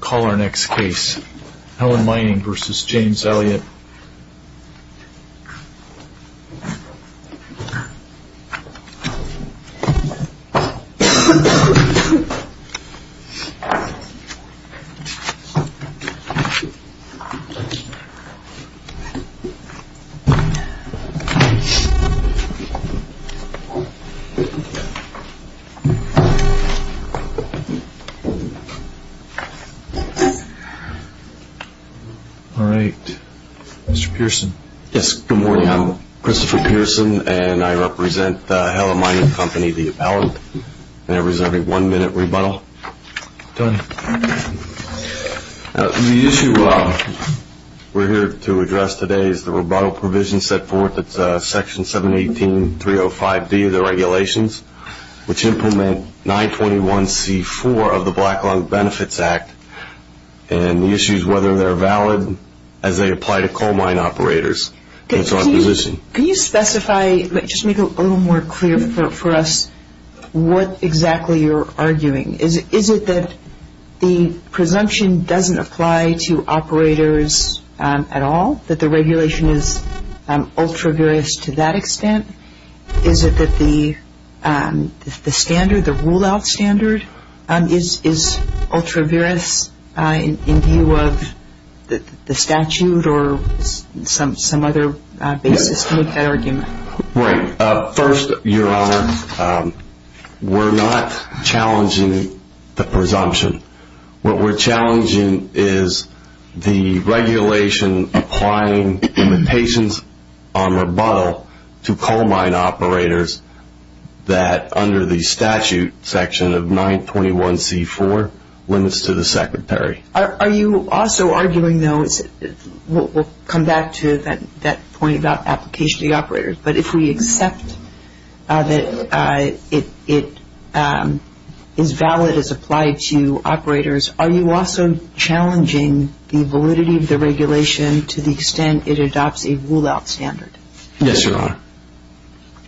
Call our next case, Helen Mining v. James Elliot Mr. Pearson Good morning, I am Christopher Pearson and I represent Helen Mining Company, the appellant. I am reserving one minute rebuttal. The issue we are here to address today is the rebuttal provision set forth in section 718.305B of the regulations, which implement 921c4 of the Black Lung Benefits Act, and the issues whether they are valid as they apply to coal mine operators. Can you specify, just make it a little more clear for us, what exactly you are arguing? Is it that the presumption doesn't apply to operators at all? That the regulation is ultra-various to that extent? Is it that the rule-out standard is ultra-various in view of the statute or some other basis to make that argument? Right. First, Your Honor, we are not challenging the presumption. What we are challenging is the regulation applying limitations on rebuttal to coal mine operators that under the statute section of 921c4 limits to the secretary. Are you also arguing, though, we will come back to that point about application to the operators, but if we accept that it is valid as applied to operators, are you also challenging the validity of the regulation to the extent it adopts a rule-out standard? Yes, Your Honor.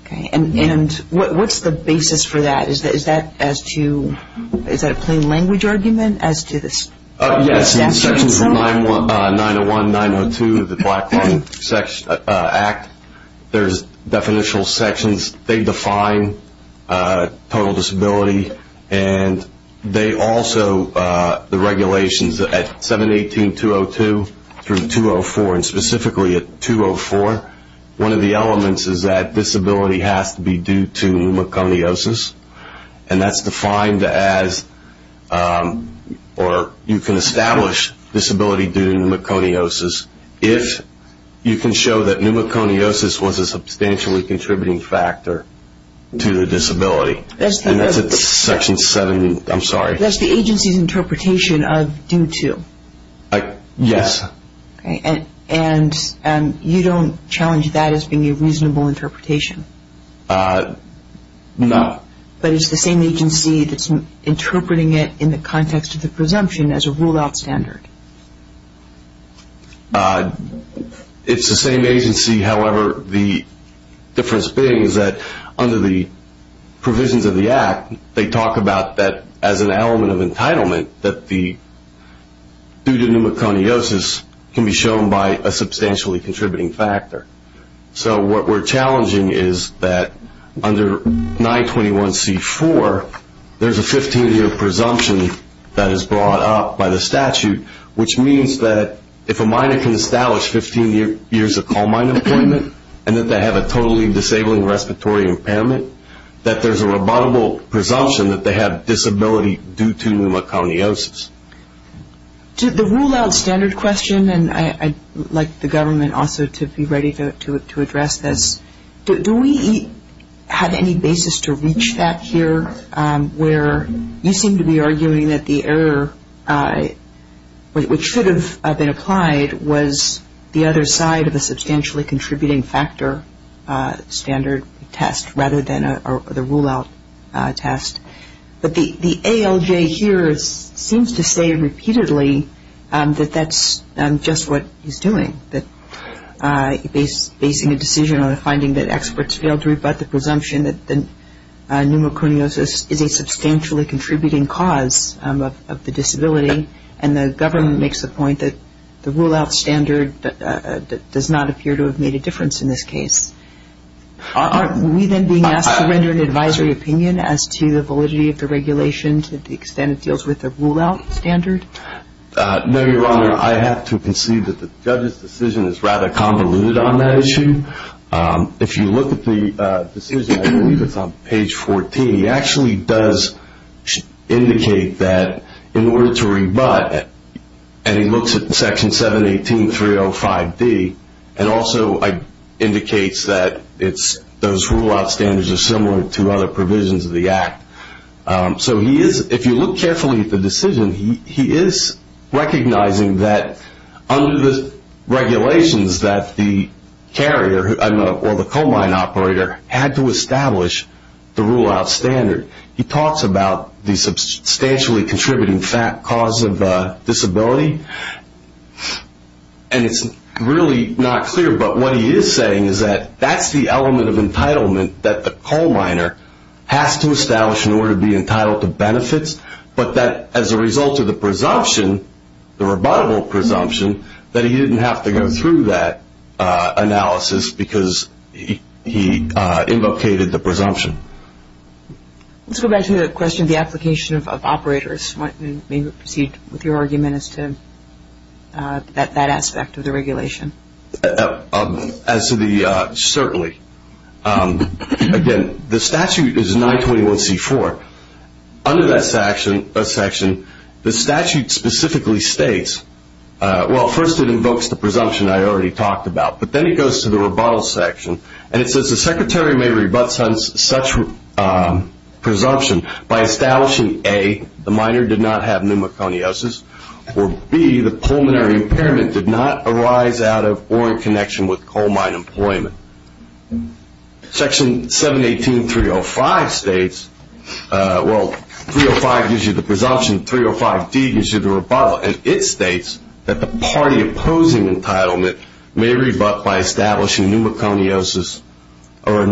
Okay. And what is the basis for that? Is that a plain language argument as to the statute? Yes. Sections of 901, 902 of the Black-Claw Act, there are definitional sections. They define total disability and they also, the regulations at 718.202 through 204, and specifically at 204, one of the elements is that disability has to be due to pneumoconiosis, and that is defined as, or you can establish disability due to pneumoconiosis if you can show that pneumoconiosis was a substantially contributing factor to the disability. That is the agency's interpretation of due to. Yes. And you don't challenge that as being a reasonable interpretation? No. But it's the same agency that's interpreting it in the context of the presumption as a rule-out standard? It's the same agency. However, the difference being is that under the provisions of the Act, they talk about that as an element of entitlement, that due to pneumoconiosis can be shown by a substantially contributing factor. So what we're challenging is that under 921C4, there's a 15-year presumption that is brought up by the statute, which means that if a minor can establish 15 years of coal mine employment and that they have a totally disabling respiratory impairment, that there's a rebuttable presumption that they have disability due to pneumoconiosis. The rule-out standard question, and I'd like the government also to be ready to address this, do we have any basis to reach that here where you seem to be arguing that the error which should have been applied was the other side of a substantially contributing factor standard test rather than the rule-out test, but the ALJ here seems to say repeatedly that that's just what he's doing, that he's basing a decision on a finding that experts failed to rebut the presumption that pneumoconiosis is a substantially contributing cause of the disability, and the government makes the point that the rule-out standard does not appear to have made a difference in this case. Are we then being asked to render an advisory opinion as to the validity of the regulation to the extent it deals with the rule-out standard? No, Your Honor. I have to concede that the judge's decision is rather convoluted on that issue. If you look at the decision, I believe it's on page 14, it actually does indicate that in order to rebut, and he looks at Section 718.305D, and also indicates that those rule-out standards are similar to other provisions of the Act. So if you look carefully at the decision, he is recognizing that under the regulations that the coal mine operator had to establish the rule-out standard. He talks about the substantially contributing cause of disability, and it's really not clear, but what he is saying is that that's the element of entitlement that the coal miner has to establish in order to be entitled to benefits, but that as a result of the presumption, the rebuttable presumption, that he didn't have to go through that analysis because he invocated the presumption. Let's go back to the question of the application of operators. Let me proceed with your argument as to that aspect of the regulation. Certainly. Again, the statute is 921C4. Under that section, the statute specifically states, well, first it invokes the presumption I already talked about, but then it goes to the rebuttal section, and it says the secretary may rebut such presumption by establishing, A, the miner did not have pneumoconiosis, or B, the pulmonary impairment did not arise out of or in connection with coal mine employment. Section 718.305 states, well, 305 gives you the presumption, 305D gives you the rebuttal, and it states that the party opposing entitlement may rebut by establishing pneumoconiosis or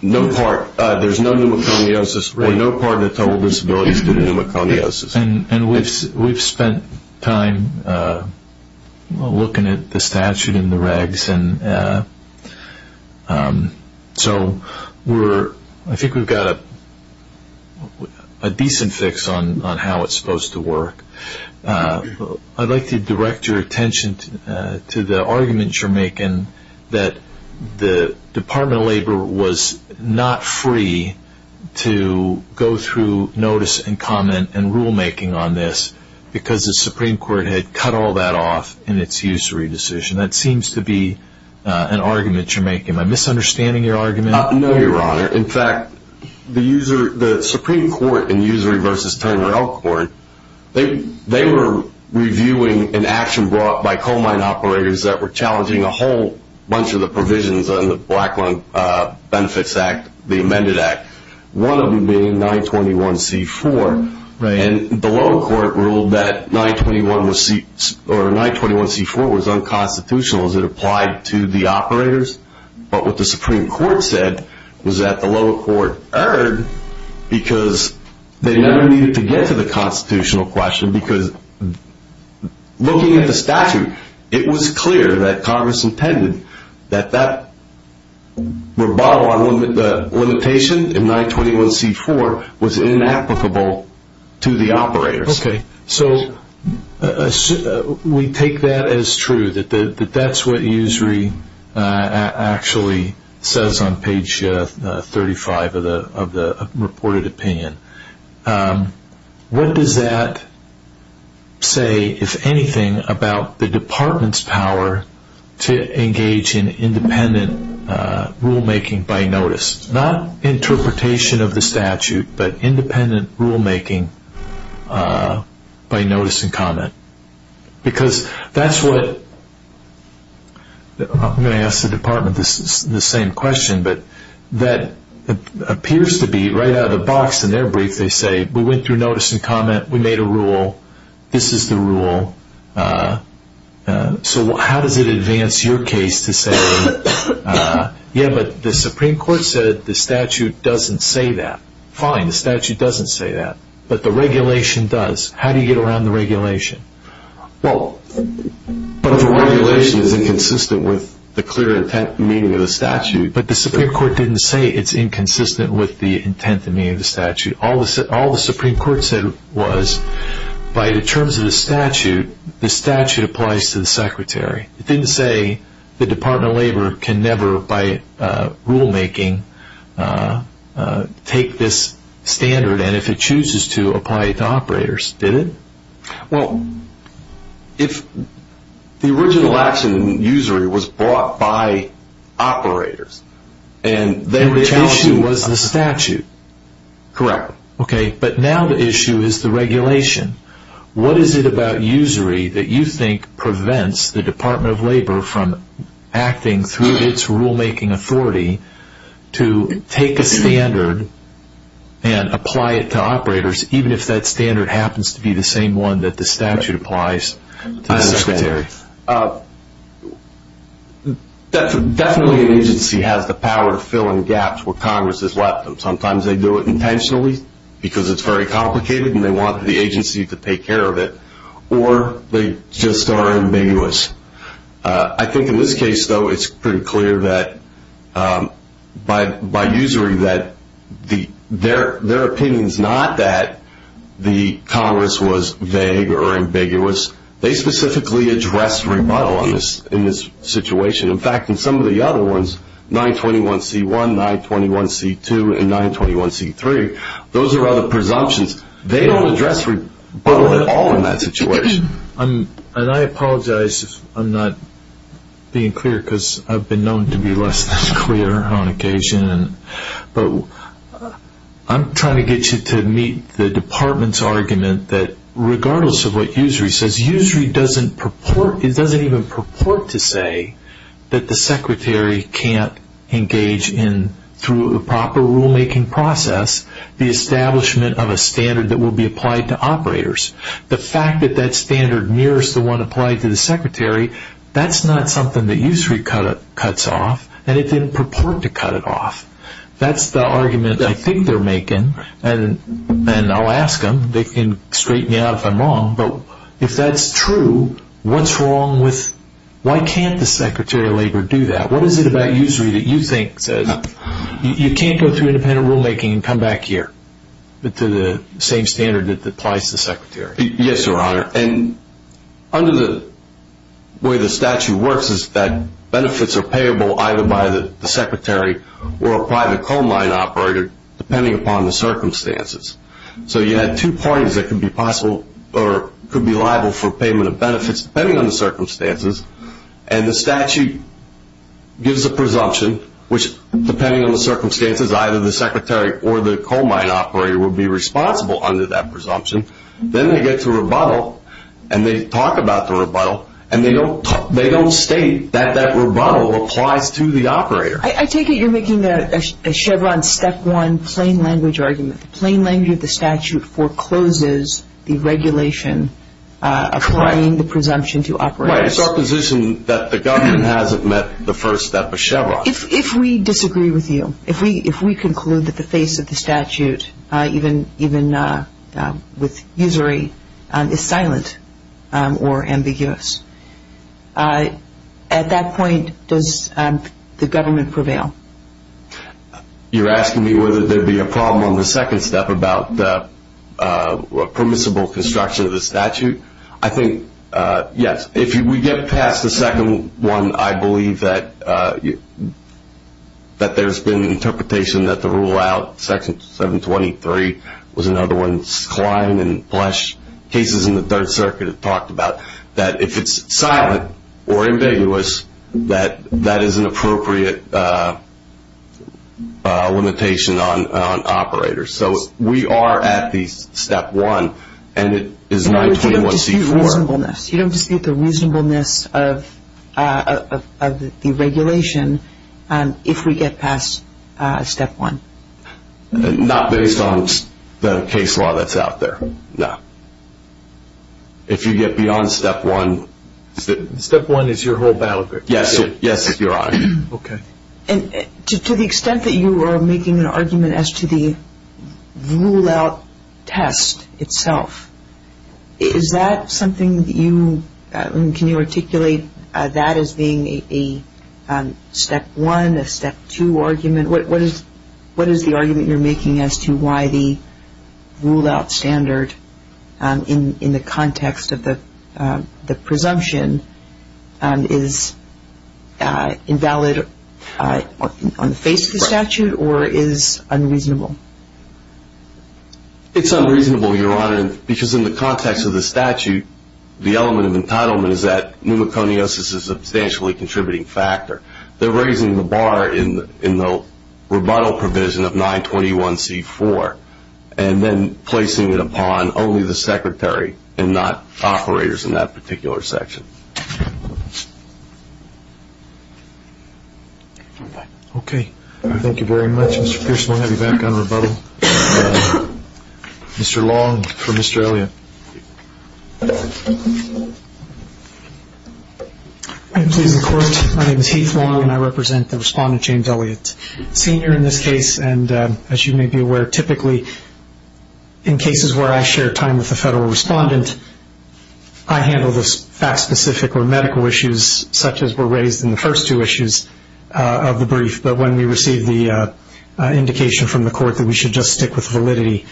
no part, there's no pneumoconiosis or no part of the total disabilities due to pneumoconiosis. And we've spent time looking at the statute and the regs, and so I think we've got a decent fix on how it's supposed to work. I'd like to direct your attention to the argument you're making that the Department of Labor was not free to go through notice and comment and rulemaking on this because the Supreme Court had cut all that off in its usury decision. That seems to be an argument you're making. Am I misunderstanding your argument? No, Your Honor. In fact, the Supreme Court in Usury v. Turner Elkhorn, they were reviewing an action brought by coal mine operators that were challenging a whole bunch of the provisions on the Blackland Benefits Act, the amended act, one of them being 921C4. And the lower court ruled that 921C4 was unconstitutional as it applied to the operators, but what the Supreme Court said was that the lower court erred because they never needed to get to the constitutional question because looking at the statute, it was clear that Congress intended that that rebuttal on the limitation in 921C4 was inapplicable to the operators. Okay, so we take that as true, that that's what usury actually says on page 35 of the reported opinion. What does that say, if anything, about the department's power to engage in independent rulemaking by notice? Not interpretation of the statute, but independent rulemaking by notice and comment. Because that's what, I'm going to ask the department the same question, but that appears to be right out of the box in their brief. They say, we went through notice and comment, we made a rule, this is the rule. So how does it advance your case to say, yeah, but the Supreme Court said the statute doesn't say that. Fine, the statute doesn't say that, but the regulation does. How do you get around the regulation? Well, but the regulation is inconsistent with the clear intent and meaning of the statute. But the Supreme Court didn't say it's inconsistent with the intent and meaning of the statute. All the Supreme Court said was, by the terms of the statute, the statute applies to the secretary. It didn't say the Department of Labor can never, by rulemaking, take this standard, and if it chooses to, apply it to operators, did it? Well, if the original action in usury was brought by operators, and they were challenged... The issue was the statute. Correct. Okay, but now the issue is the regulation. What is it about usury that you think prevents the Department of Labor from acting through its rulemaking authority to take a standard and apply it to operators, even if that standard happens to be the same one that the statute applies to the secretary? Definitely an agency has the power to fill in gaps where Congress has left them. Sometimes they do it intentionally because it's very complicated, and they want the agency to take care of it, or they just are ambiguous. I think in this case, though, it's pretty clear that by usury, their opinion is not that the Congress was vague or ambiguous. They specifically address rebuttal in this situation. In fact, in some of the other ones, 921C1, 921C2, and 921C3, those are other presumptions. They don't address rebuttal at all in that situation. I apologize if I'm not being clear because I've been known to be less than clear on occasion. But I'm trying to get you to meet the department's argument that regardless of what usury says, usury doesn't even purport to say that the secretary can't engage in, through a proper rulemaking process, the establishment of a standard that will be applied to operators. The fact that that standard mirrors the one applied to the secretary, that's not something that usury cuts off, and it didn't purport to cut it off. That's the argument I think they're making, and I'll ask them. They can straighten me out if I'm wrong. But if that's true, what's wrong with, why can't the secretary of labor do that? What is it about usury that you think says, You can't go through independent rulemaking and come back here to the same standard that applies to the secretary. Yes, Your Honor. Under the way the statute works is that benefits are payable either by the secretary or a private coal mine operator depending upon the circumstances. So you had two parties that could be liable for payment of benefits depending on the circumstances, and the statute gives a presumption which, depending on the circumstances, either the secretary or the coal mine operator would be responsible under that presumption. Then they get to rebuttal, and they talk about the rebuttal, and they don't state that that rebuttal applies to the operator. I take it you're making a Chevron step one plain language argument. The plain language of the statute forecloses the regulation applying the presumption to operators. That's right. It's our position that the government hasn't met the first step of Chevron. If we disagree with you, if we conclude that the face of the statute, even with usury, is silent or ambiguous, at that point does the government prevail? You're asking me whether there would be a problem on the second step about permissible construction of the statute? I think yes. If we get past the second one, I believe that there's been an interpretation that the rule out, section 723 was another one, Klein and Flesch, cases in the Third Circuit have talked about, that if it's silent or ambiguous, that that is an appropriate limitation on operators. So we are at the step one, and it is 921C4. You don't dispute the reasonableness of the regulation if we get past step one? Not based on the case law that's out there, no. If you get beyond step one. Step one is your whole battle group? Yes, Your Honor. Okay. And to the extent that you are making an argument as to the rule out test itself, is that something that you, can you articulate that as being a step one, a step two argument? What is the argument you're making as to why the rule out standard, in the context of the presumption, is invalid on the face of the statute, or is unreasonable? It's unreasonable, Your Honor, because in the context of the statute, the element of entitlement is that pneumoconiosis is a substantially contributing factor. They're raising the bar in the rebuttal provision of 921C4, and then placing it upon only the secretary and not operators in that particular section. Okay. Thank you very much, Mr. Pearson. We'll have you back on rebuttal. Mr. Long for Mr. Elliott. Thank you, Your Honor. My name is Heath Long, and I represent the respondent, James Elliott, senior in this case. And as you may be aware, typically in cases where I share time with a federal respondent, I handle the fact-specific or medical issues such as were raised in the first two issues of the brief. But when we receive the indication from the court that we should just stick with validity,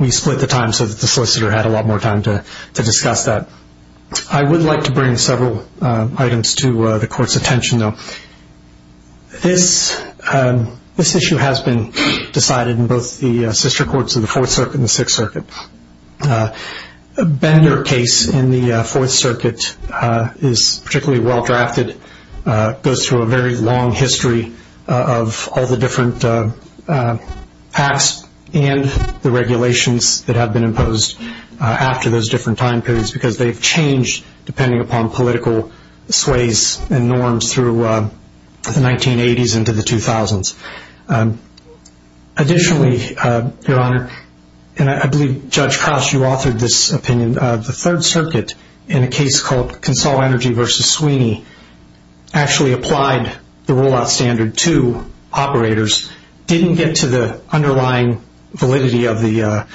we split the time so that the solicitor had a lot more time to discuss that. I would like to bring several items to the court's attention, though. This issue has been decided in both the sister courts of the Fourth Circuit and the Sixth Circuit. Bender case in the Fourth Circuit is particularly well-drafted. It goes through a very long history of all the different pacts and the regulations that have been imposed after those different time periods because they've changed depending upon political sways and norms through the 1980s into the 2000s. Additionally, Your Honor, and I believe Judge Crouse, you authored this opinion, the Third Circuit in a case called Consol Energy v. Sweeney actually applied the rollout standard to operators, didn't get to the underlying validity of the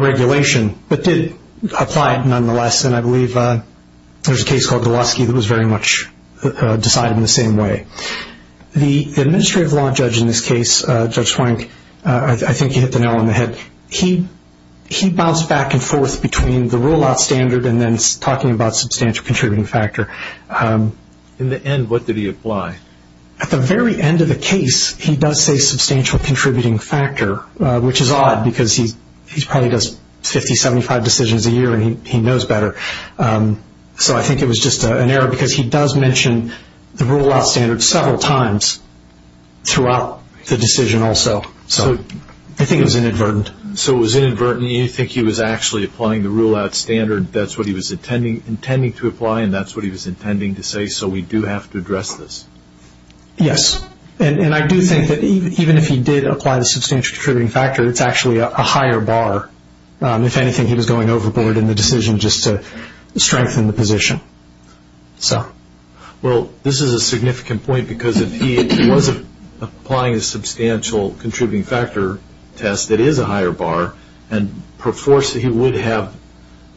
regulation, but did apply it nonetheless. And I believe there's a case called Gowoski that was very much decided in the same way. The administrative law judge in this case, Judge Swank, I think you hit the nail on the head, but he bounced back and forth between the rollout standard and then talking about substantial contributing factor. In the end, what did he apply? At the very end of the case, he does say substantial contributing factor, which is odd because he probably does 50, 75 decisions a year and he knows better. So I think it was just an error because he does mention the rollout standard several times throughout the decision also. So I think it was inadvertent. So it was inadvertent. You think he was actually applying the rollout standard. That's what he was intending to apply and that's what he was intending to say, so we do have to address this. Yes, and I do think that even if he did apply the substantial contributing factor, it's actually a higher bar. If anything, he was going overboard in the decision just to strengthen the position. Well, this is a significant point because if he was applying a substantial contributing factor test, it is a higher bar and perforce he would have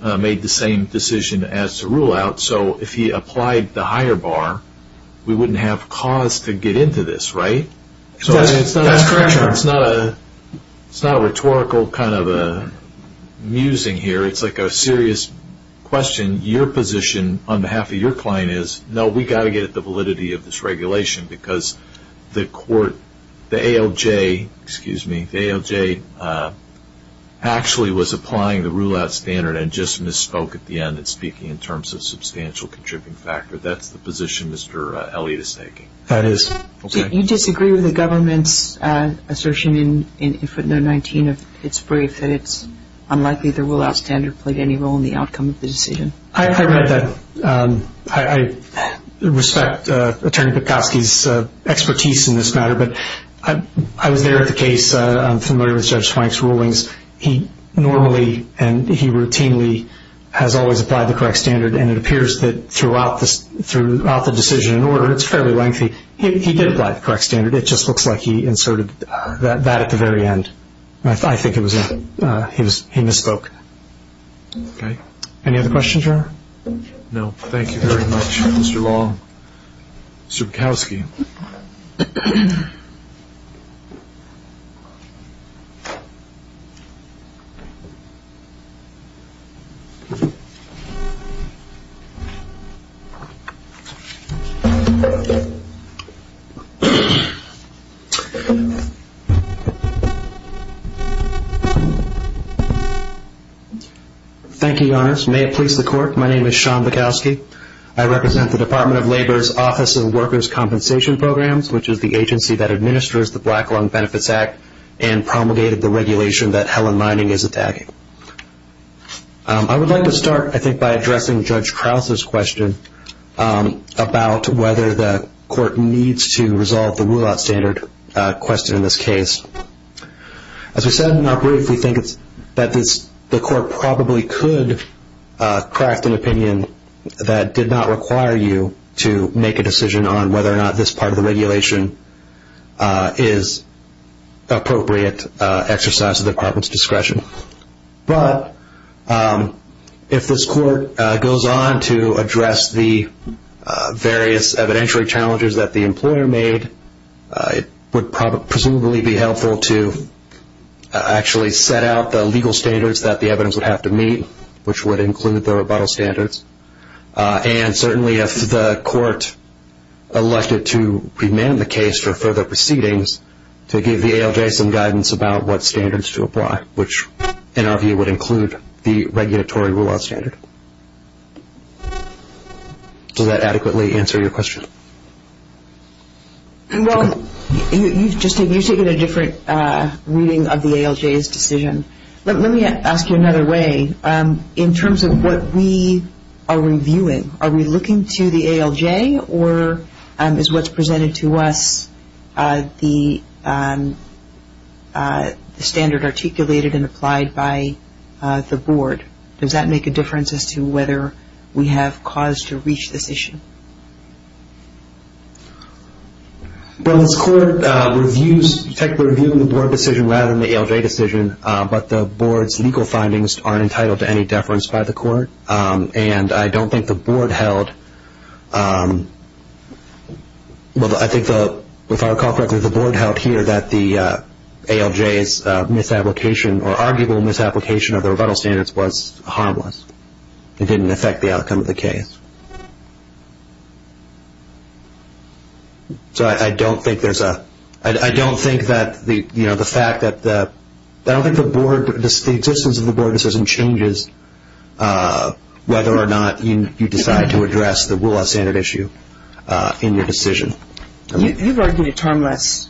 made the same decision as the rollout. So if he applied the higher bar, we wouldn't have cause to get into this, right? That's correct, sir. It's not a rhetorical kind of musing here. It's like a serious question. Your position on behalf of your client is, no, we've got to get at the validity of this regulation because the ALJ actually was applying the rollout standard and just misspoke at the end in speaking in terms of substantial contributing factor. That's the position Mr. Elliott is taking. That is. Do you disagree with the government's assertion in footnote 19 of its brief that it's unlikely the rollout standard played any role in the outcome of the decision? I read that. I respect Attorney Pikosky's expertise in this matter, but I was there at the case. I'm familiar with Judge Swank's rulings. He normally and he routinely has always applied the correct standard, and it appears that throughout the decision in order, it's fairly lengthy, he did apply the correct standard. It just looks like he inserted that at the very end. I think he misspoke. Any other questions, Your Honor? No, thank you very much, Mr. Long. Mr. Pikosky. Thank you, Your Honors. May it please the Court, my name is Sean Pikosky. I represent the Department of Labor's Office of Workers' Compensation Programs, which is the agency that administers the Black Lung Benefits Act and promulgated the regulation that Helen Mining is attacking. I would like to start, I think, by addressing Judge Krause's question about whether the Court needs to resolve the rollout standard question in this case. As we said in our brief, we think that the Court probably could craft an opinion that did not require you to make a decision on whether or not this part of the regulation is appropriate exercise of the Department's discretion. But if this Court goes on to address the various evidentiary challenges that the employer made, it would presumably be helpful to actually set out the legal standards that the evidence would have to meet, which would include the rebuttal standards. And certainly if the Court elected to remand the case for further proceedings, to give the ALJ some guidance about what standards to apply, which in our view would include the regulatory rollout standard. Does that adequately answer your question? Well, you've just taken a different reading of the ALJ's decision. Let me ask you another way. In terms of what we are reviewing, are we looking to the ALJ or is what's presented to us the standard articulated and applied by the Board? Does that make a difference as to whether we have cause to reach this issue? Well, this Court reviews the Board decision rather than the ALJ decision, but the Board's legal findings aren't entitled to any deference by the Court. And I don't think the Board held, well, I think if I recall correctly, the Board held here that the ALJ's misapplication or arguable misapplication of the rebuttal standards was harmless. It didn't affect the outcome of the case. So I don't think there's a, I don't think that the, you know, the fact that the, I don't think the Board, the existence of the Board decision changes whether or not you decide to address the rollout standard issue in your decision. You've argued it's harmless.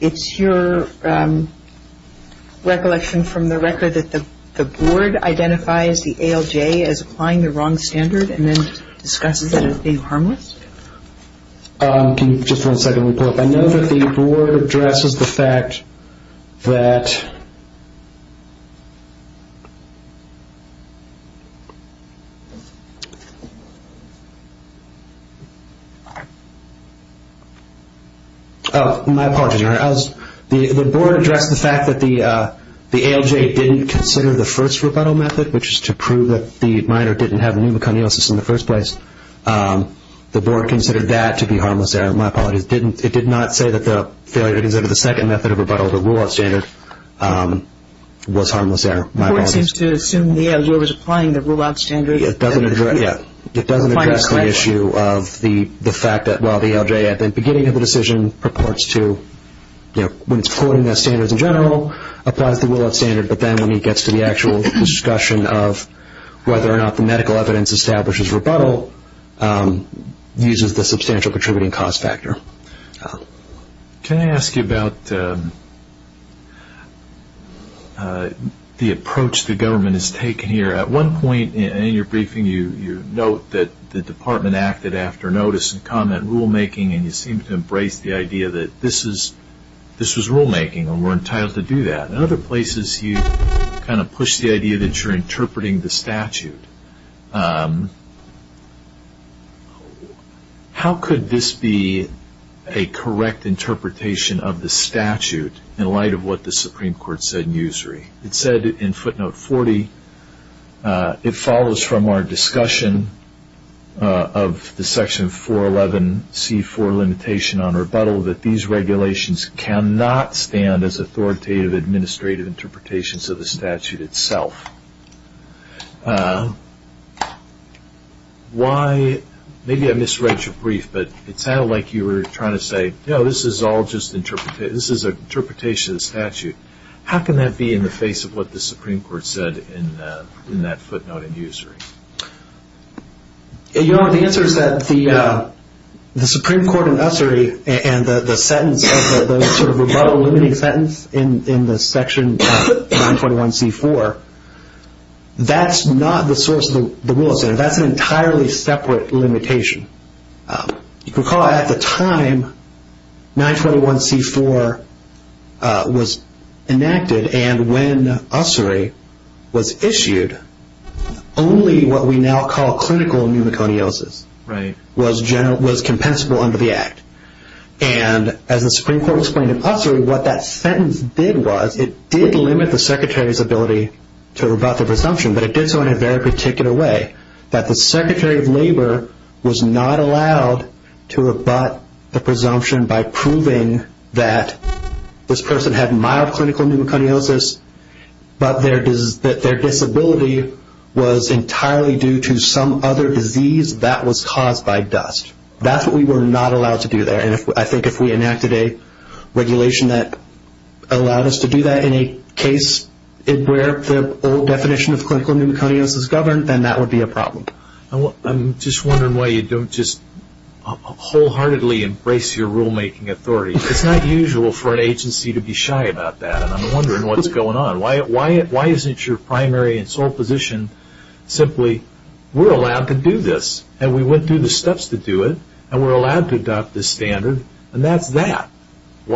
It's your recollection from the record that the Board identifies the ALJ as applying the wrong standard and then discusses it as being harmless? Can you just one second pull up? I know that the Board addresses the fact that, oh, my apologies. The Board addressed the fact that the ALJ didn't consider the first rebuttal method, which is to prove that the minor didn't have pneumoconiosis in the first place. The Board considered that to be harmless there. My apologies. It did not say that the failure to consider the second method of rebuttal, the rollout standard, was harmless there. The Board seems to assume the ALJ was applying the rollout standard. It doesn't address the issue of the fact that while the ALJ at the beginning of the decision purports to, you know, when it's quoting the standards in general, applies the rollout standard, but then when it gets to the actual discussion of whether or not the medical evidence establishes rebuttal, uses the substantial contributing cost factor. Can I ask you about the approach the government has taken here? At one point in your briefing, you note that the Department acted after notice and comment rulemaking, and you seem to embrace the idea that this was rulemaking and we're entitled to do that. In other places, you kind of push the idea that you're interpreting the statute. How could this be a correct interpretation of the statute in light of what the Supreme Court said in usury? It said in footnote 40, it follows from our discussion of the section 411C4 limitation on rebuttal that these regulations cannot stand as authoritative administrative interpretations of the statute itself. Maybe I misread your brief, but it sounded like you were trying to say, no, this is all just an interpretation of the statute. How can that be in the face of what the Supreme Court said in that footnote in usury? The answer is that the Supreme Court in usury and the sentence, the sort of rebuttal limiting sentence in the section 921C4, that's not the source of the rule. That's an entirely separate limitation. You can recall at the time 921C4 was enacted and when usury was issued, only what we now call clinical pneumoconiosis was compensable under the Act. As the Supreme Court explained in usury, what that sentence did was, it did limit the Secretary's ability to rebut the presumption, but it did so in a very particular way, that the Secretary of Labor was not allowed to rebut the presumption by proving that this person had mild clinical pneumoconiosis, but their disability was entirely due to some other disease that was caused by dust. That's what we were not allowed to do there, and I think if we enacted a regulation that allowed us to do that in a case where the old definition of clinical pneumoconiosis governed, then that would be a problem. I'm just wondering why you don't just wholeheartedly embrace your rulemaking authority. It's not usual for an agency to be shy about that, and I'm wondering what's going on. Why isn't your primary and sole position simply, we're allowed to do this, and we went through the steps to do it, and we're allowed to adopt this standard, and that's that. and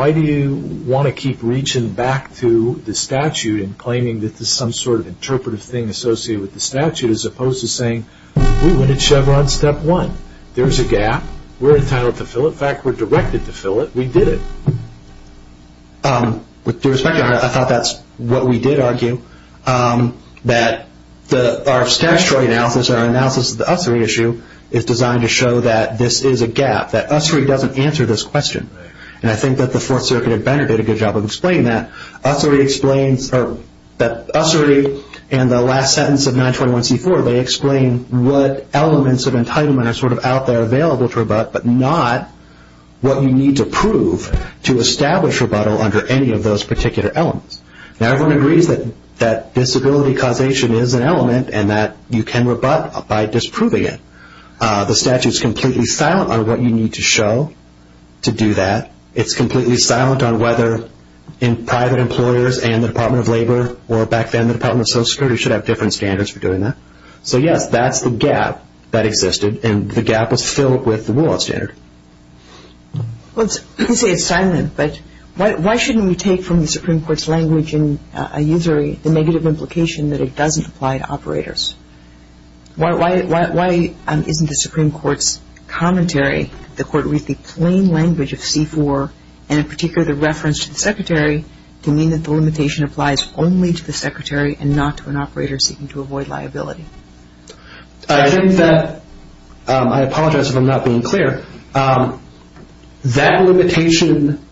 claiming that there's some sort of interpretive thing associated with the statute, as opposed to saying, we went in chevron step one. There's a gap. We're entitled to fill it. In fact, we're directed to fill it. We did it. With due respect, I thought that's what we did argue, that our statutory analysis, our analysis of the Ussery issue, is designed to show that this is a gap, that Ussery doesn't answer this question, and I think that the Fourth Circuit at Benner did a good job of explaining that. Ussery explains, or that Ussery in the last sentence of 921c4, they explain what elements of entitlement are sort of out there available to rebut, but not what you need to prove to establish rebuttal under any of those particular elements. Now, everyone agrees that disability causation is an element, and that you can rebut by disproving it. The statute is completely silent on what you need to show to do that. It's completely silent on whether private employers and the Department of Labor or back then the Department of Social Security should have different standards for doing that. So, yes, that's the gap that existed, and the gap was filled with the rule-of-law standard. Well, you say it's silent, but why shouldn't we take from the Supreme Court's language in a Ussery the negative implication that it doesn't apply to operators? Why isn't the Supreme Court's commentary, the Court reads the plain language of c4, and in particular the reference to the Secretary, to mean that the limitation applies only to the Secretary and not to an operator seeking to avoid liability? I think that, I apologize if I'm not being clear, that limitation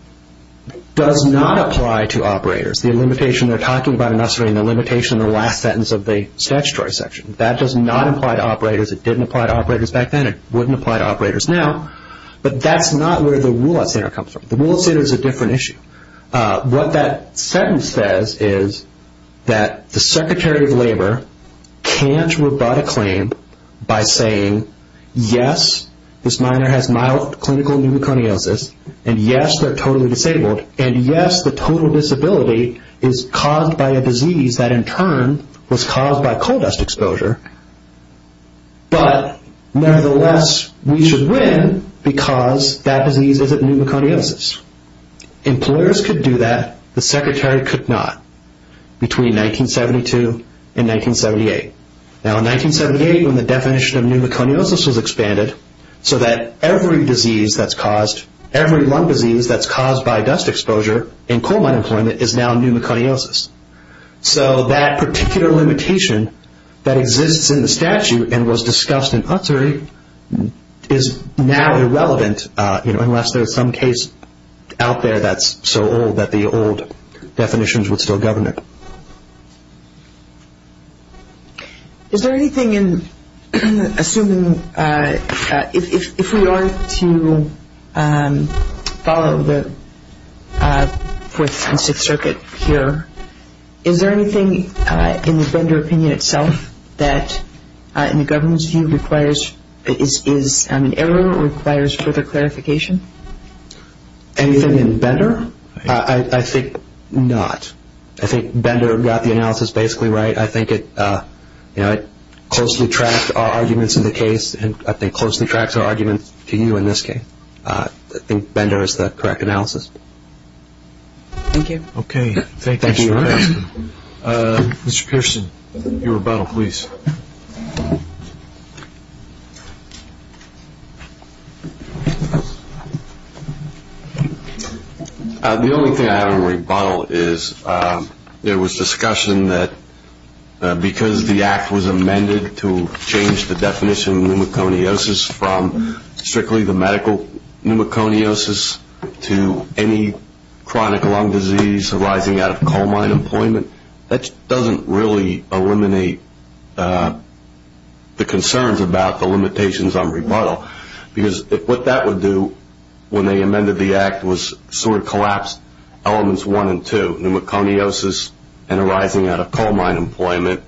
does not apply to operators. It's the limitation they're talking about in Ussery and the limitation in the last sentence of the statutory section. That does not apply to operators. It didn't apply to operators back then. It wouldn't apply to operators now. But that's not where the rule-of-law standard comes from. The rule-of-law standard is a different issue. What that sentence says is that the Secretary of Labor can't rebut a claim by saying, yes, this minor has mild clinical pneumoconiosis, and yes, they're totally disabled, and yes, the total disability is caused by a disease that in turn was caused by coal dust exposure, but nevertheless we should win because that disease isn't pneumoconiosis. Employers could do that. The Secretary could not. Between 1972 and 1978. Now in 1978 when the definition of pneumoconiosis was expanded so that every disease that's caused, every lung disease that's caused by dust exposure in coal mine employment is now pneumoconiosis. So that particular limitation that exists in the statute and was discussed in Ussery is now irrelevant, unless there's some case out there that's so old that the old definitions would still govern it. Is there anything in assuming, if we are to follow the Fourth and Sixth Circuit here, is there anything in the Bender opinion itself that in the government's view requires, is an error or requires further clarification? Anything in Bender? I think not. I think Bender got the analysis basically right. I think it closely tracks our arguments in the case, and I think closely tracks our arguments to you in this case. I think Bender is the correct analysis. Thank you. Okay, thank you. Mr. Pearson, your rebuttal, please. Thank you. The only thing I have in rebuttal is there was discussion that because the act was amended to change the definition of pneumoconiosis from strictly the medical pneumoconiosis to any chronic lung disease arising out of coal mine employment, that doesn't really eliminate the concerns about the limitations on rebuttal, because what that would do when they amended the act was sort of collapse elements one and two, pneumoconiosis and arising out of coal mine employment.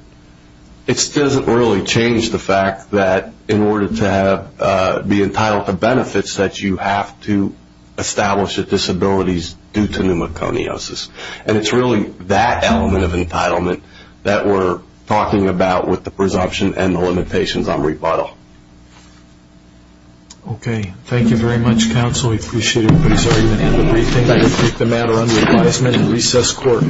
It doesn't really change the fact that in order to be entitled to benefits, that you have to establish the disabilities due to pneumoconiosis. And it's really that element of entitlement that we're talking about with the presumption and the limitations on rebuttal. Okay, thank you very much, counsel. We appreciate everybody's argument. I will take the matter under advisement in recess court.